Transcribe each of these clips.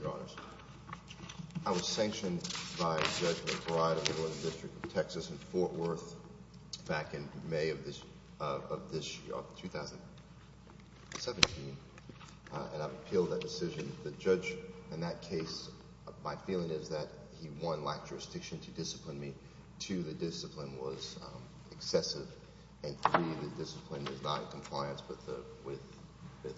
Your Honors, I was sanctioned by Judge McBride of the Northern District of Texas in Fort Worth back in May of this year, of 2017, and I've appealed that decision. The judge in that case, my feeling is that he, one, lacked jurisdiction to discipline me, two, the discipline was excessive, and three, the discipline is not in compliance with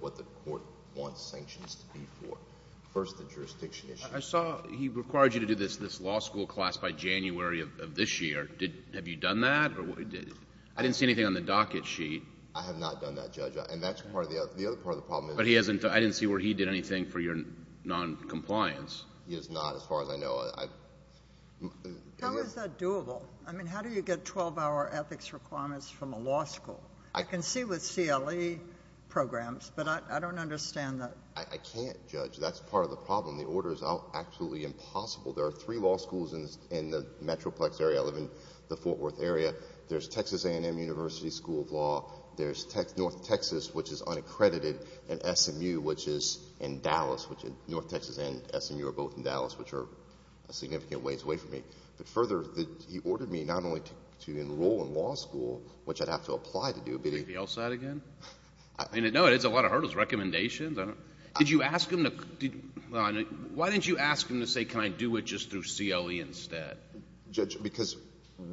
what the court wants sanctions to be for. First, the jurisdiction issue. I saw he required you to do this law school class by January of this year. Have you done that? I didn't see anything on the docket sheet. I have not done that, Judge. And that's part of the other part of the problem. But I didn't see where he did anything for your noncompliance. He has not, as far as I know. How is that doable? I mean, how do you get 12-hour ethics requirements from a law school? I can see with CLE programs, but I don't understand that. I can't, Judge. That's part of the problem. The order is absolutely impossible. There are three law schools in the metroplex area. I live in the Fort Worth area. There's Texas A&M University School of Law. There's North Texas, which is unaccredited, and SMU, which is in Dallas, which North Texas and SMU are both in Dallas, which are significant ways away from me. But further, he ordered me not only to enroll in law school, which I'd have to apply to do, but he — The L side again? No, it has a lot of hurdles, recommendations. Did you ask him to — why didn't you ask him to say can I do it just through CLE instead? Judge, because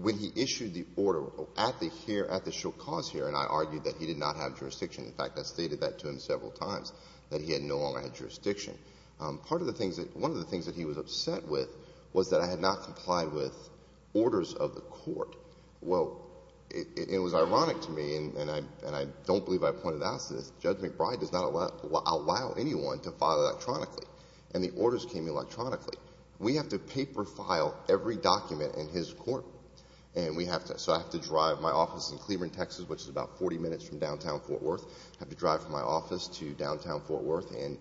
when he issued the order at the show cause hearing, I argued that he did not have jurisdiction. In fact, I stated that to him several times, that he had no longer had jurisdiction. Part of the things that — one of the things that he was upset with was that I had not complied with orders of the court. Well, it was ironic to me, and I don't believe I pointed out to this. Judge McBride does not allow anyone to file electronically, and the orders came electronically. We have to paper file every document in his court, and we have to. So I have to drive my office in Cleburne, Texas, which is about 40 minutes from downtown Fort Worth. I have to drive from my office to downtown Fort Worth and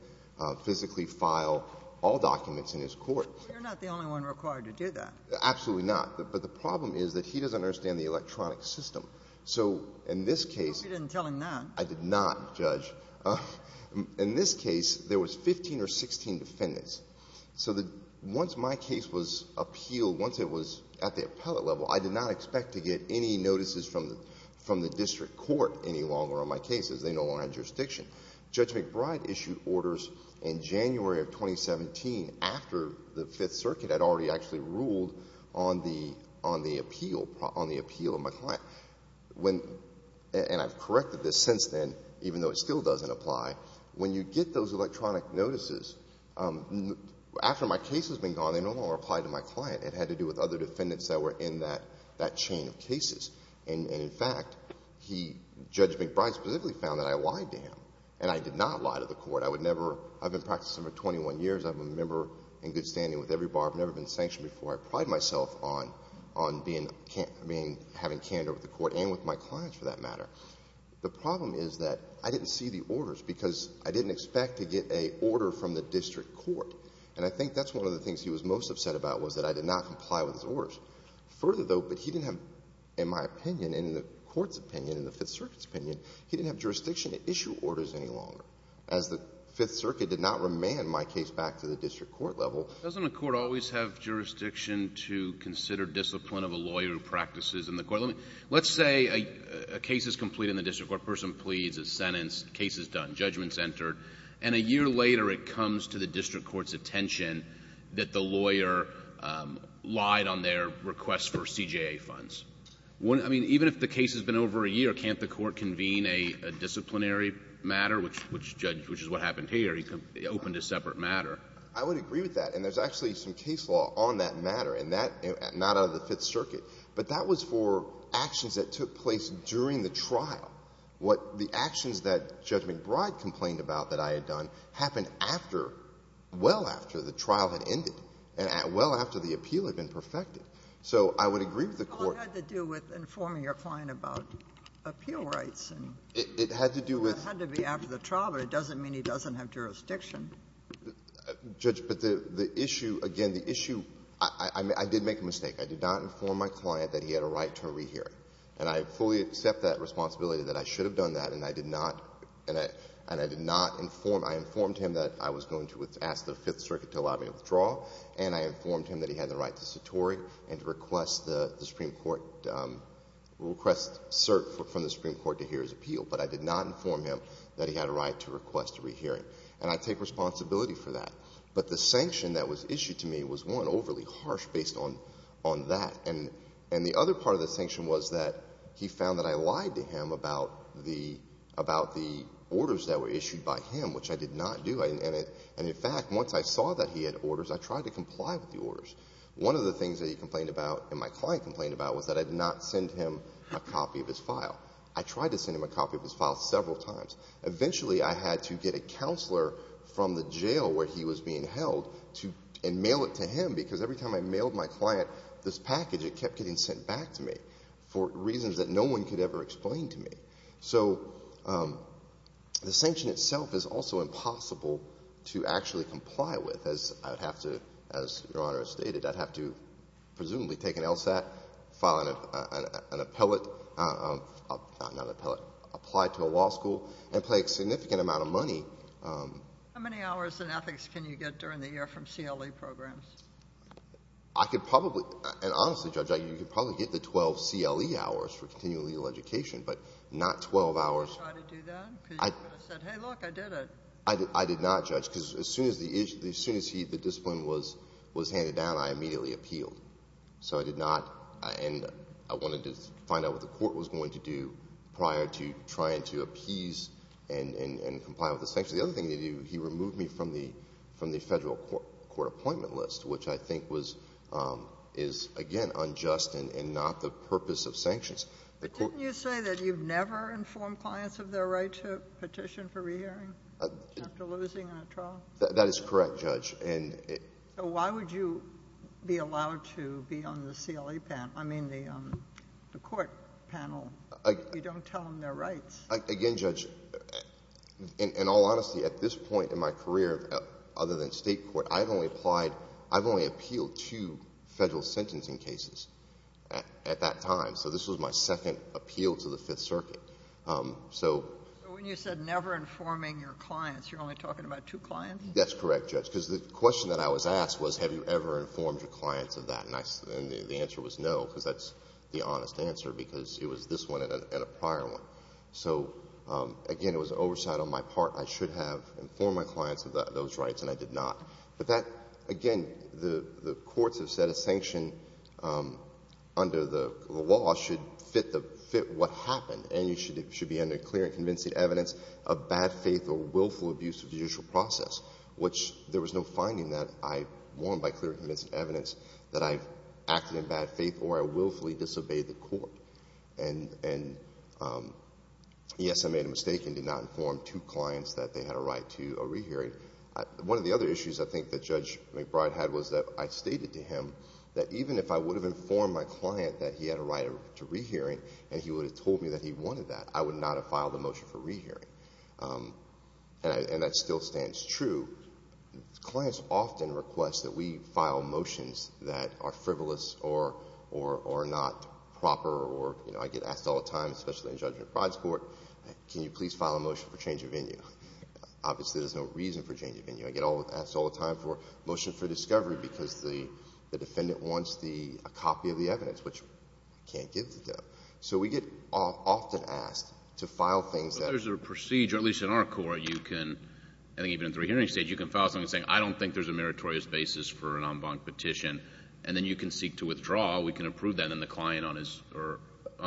physically file all documents in his court. But you're not the only one required to do that. Absolutely not. But the problem is that he doesn't understand the electronic system. So in this case — I hope you didn't tell him that. I did not, Judge. In this case, there was 15 or 16 defendants. So the — once my case was appealed, once it was at the appellate level, I did not expect to get any notices from the district court any longer on my cases. They no longer had jurisdiction. Judge McBride issued orders in January of 2017, after the Fifth Circuit had already actually ruled on the — on the appeal, on the appeal of my client. When — and I've corrected this since then, even though it still doesn't apply. When you get those electronic notices, after my case has been gone, they no longer apply to my client. It had to do with other defendants that were in that — that chain of cases. And in fact, he — Judge McBride specifically found that I lied to him, and I did not lie to the court. I would never — I've been practicing for 21 years. I'm a member in good standing with every bar. I've never been sanctioned before. I pride myself on — on being — having candor with the court and with my clients, for that matter. The problem is that I didn't see the orders, because I didn't expect to get a order from the district court. And I think that's one of the things he was most upset about, was that I did not comply with his orders. Further, though, but he didn't have — in my opinion, and in the Court's opinion, in the Fifth Circuit's opinion, he didn't have jurisdiction to issue orders any longer. As the Fifth Circuit did not remand my case back to the district court level. Doesn't a court always have jurisdiction to consider discipline of a lawyer who practices in the court? Let me — let's say a case is completed in the district court, person pleads, it's sentenced, case is done, judgment's entered, and a year later it comes to the district court's attention that the lawyer lied on their request for CJA funds. I mean, even if the case has been over a year, can't the court convene a disciplinary matter, which Judge — which is what happened here? He opened a separate matter. I would agree with that. And there's actually some case law on that matter. And that — not out of the Fifth Circuit. But that was for actions that took place during the trial. What the actions that Judge McBride complained about that I had done happened after — well after the trial had ended and well after the appeal had been perfected. So I would agree with the court — It had to do with informing your client about appeal rights. It had to do with — It had to be after the trial, but it doesn't mean he doesn't have jurisdiction. Judge, but the issue — again, the issue — I did make a mistake. I did not inform my client that he had a right to a rehearing. And I fully accept that responsibility, that I should have done that. And I did not — and I did not inform — I informed him that I was going to ask the Fifth Circuit to allow me to withdraw, and I informed him that he had the right to satori and to request the Supreme Court — request cert from the Supreme Court to hear his appeal. But I did not inform him that he had a right to request a rehearing. And I take responsibility for that. But the sanction that was issued to me was, one, overly harsh based on that. And the other part of the sanction was that he found that I lied to him about the orders that were issued by him, which I did not do. And in fact, once I saw that he had orders, I tried to comply with the orders. One of the things that he complained about and my client complained about was that I did not send him a copy of his file. I tried to send him a copy of his file several times. Eventually, I had to get a counselor from the jail where he was being held and mail it to him because every time I mailed my client this package, it kept getting sent back to me for reasons that no one could ever explain to me. So the sanction itself is also impossible to actually comply with. As I would have to — as Your Honor has stated, I'd have to presumably take an LSAT, file an appellate — not an appellate — apply to a law school and pay a significant amount of money. How many hours in ethics can you get during the year from CLE programs? I could probably — and honestly, Judge, you could probably get the 12 CLE hours for continuing legal education, but not 12 hours — Did you try to do that? Because you could have said, hey, look, I did it. I did not, Judge, because as soon as the discipline was handed down, I immediately appealed. So I did not — and I wanted to find out what the court was going to do prior to trying to appease and comply with the sanctions. The other thing they do, he removed me from the Federal court appointment list, which I think was — is, again, unjust and not the purpose of sanctions. But didn't you say that you've never informed clients of their right to petition for rehearing after losing a trial? That is correct, Judge. And it — So why would you be allowed to be on the CLE panel — I mean, the court panel? You don't tell them their rights. Again, Judge, in all honesty, at this point in my career, other than State court, I've only applied — I've only appealed two Federal sentencing cases at that time. So this was my second appeal to the Fifth Circuit. So — So when you said never informing your clients, you're only talking about two clients? That's correct, Judge, because the question that I was asked was, have you ever informed your clients of that? And I — and the answer was no, because that's the honest answer, because it was this one and a prior one. So, again, it was oversight on my part. I should have informed my clients of those rights, and I did not. But that — again, the courts have said a sanction under the law should fit what happened, and it should be under clear and convincing evidence of bad faith or willful abuse of judicial process, which there was no finding that I — one, by clear and convincing evidence that I acted in bad faith or I willfully disobeyed the court. And, yes, I made a mistake and did not inform two clients that they had a right to a rehearing. One of the other issues, I think, that Judge McBride had was that I stated to him that even if I would have informed my client that he had a right to rehearing and he would have told me that he wanted that, I would not have filed a motion for rehearing. And that still stands true. Clients often request that we file motions that are frivolous or not proper or, you know, I get asked all the time, especially in Judge McBride's court, can you please file a motion for change of venue? Obviously, there's no reason for change of venue. I get asked all the time for a motion for discovery because the defendant wants the — a copy of the evidence, which I can't give to them. So we get often asked to file things that — If there's a procedure, at least in our court, you can, I think even in the rehearing stage, you can file something saying I don't think there's a meritorious basis for an en banc petition and then you can seek to withdraw. We can approve that and the client on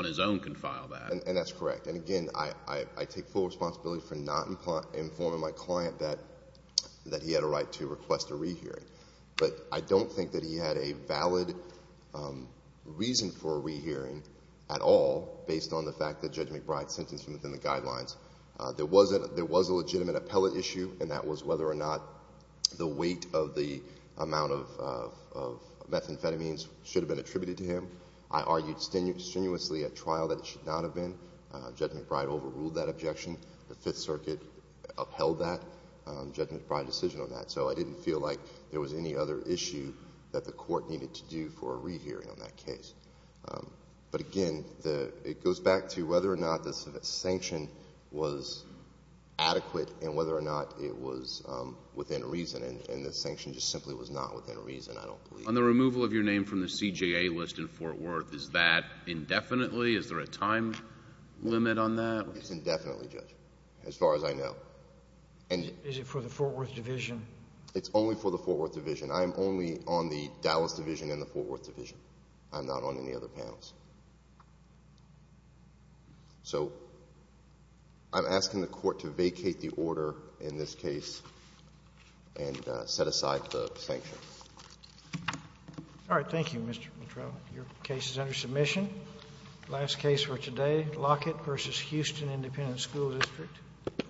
his own can file that. And that's correct. And, again, I take full responsibility for not informing my client that he had a right to request a rehearing. But I don't think that he had a valid reason for a rehearing at all based on the fact that Judge McBride sentenced him within the guidelines. There was a legitimate appellate issue, and that was whether or not the weight of the amount of methamphetamines should have been attributed to him. I argued strenuously at trial that it should not have been. Judge McBride overruled that objection. The Fifth Circuit upheld that, Judge McBride's decision on that. So I didn't feel like there was any other issue that the court needed to do for a rehearing on that case. But, again, it goes back to whether or not the sanction was adequate and whether or not it was within reason, and the sanction just simply was not within reason, I don't believe. On the removal of your name from the CJA list in Fort Worth, is that indefinitely? Is there a time limit on that? It's indefinitely, Judge, as far as I know. Is it for the Fort Worth Division? It's only for the Fort Worth Division. I am only on the Dallas Division and the Fort Worth Division. I'm not on any other panels. So I'm asking the court to vacate the order in this case and set aside the sanction. All right. Thank you, Mr. Mitrella. Your case is under submission. Last case for today, Lockett v. Houston Independent School District.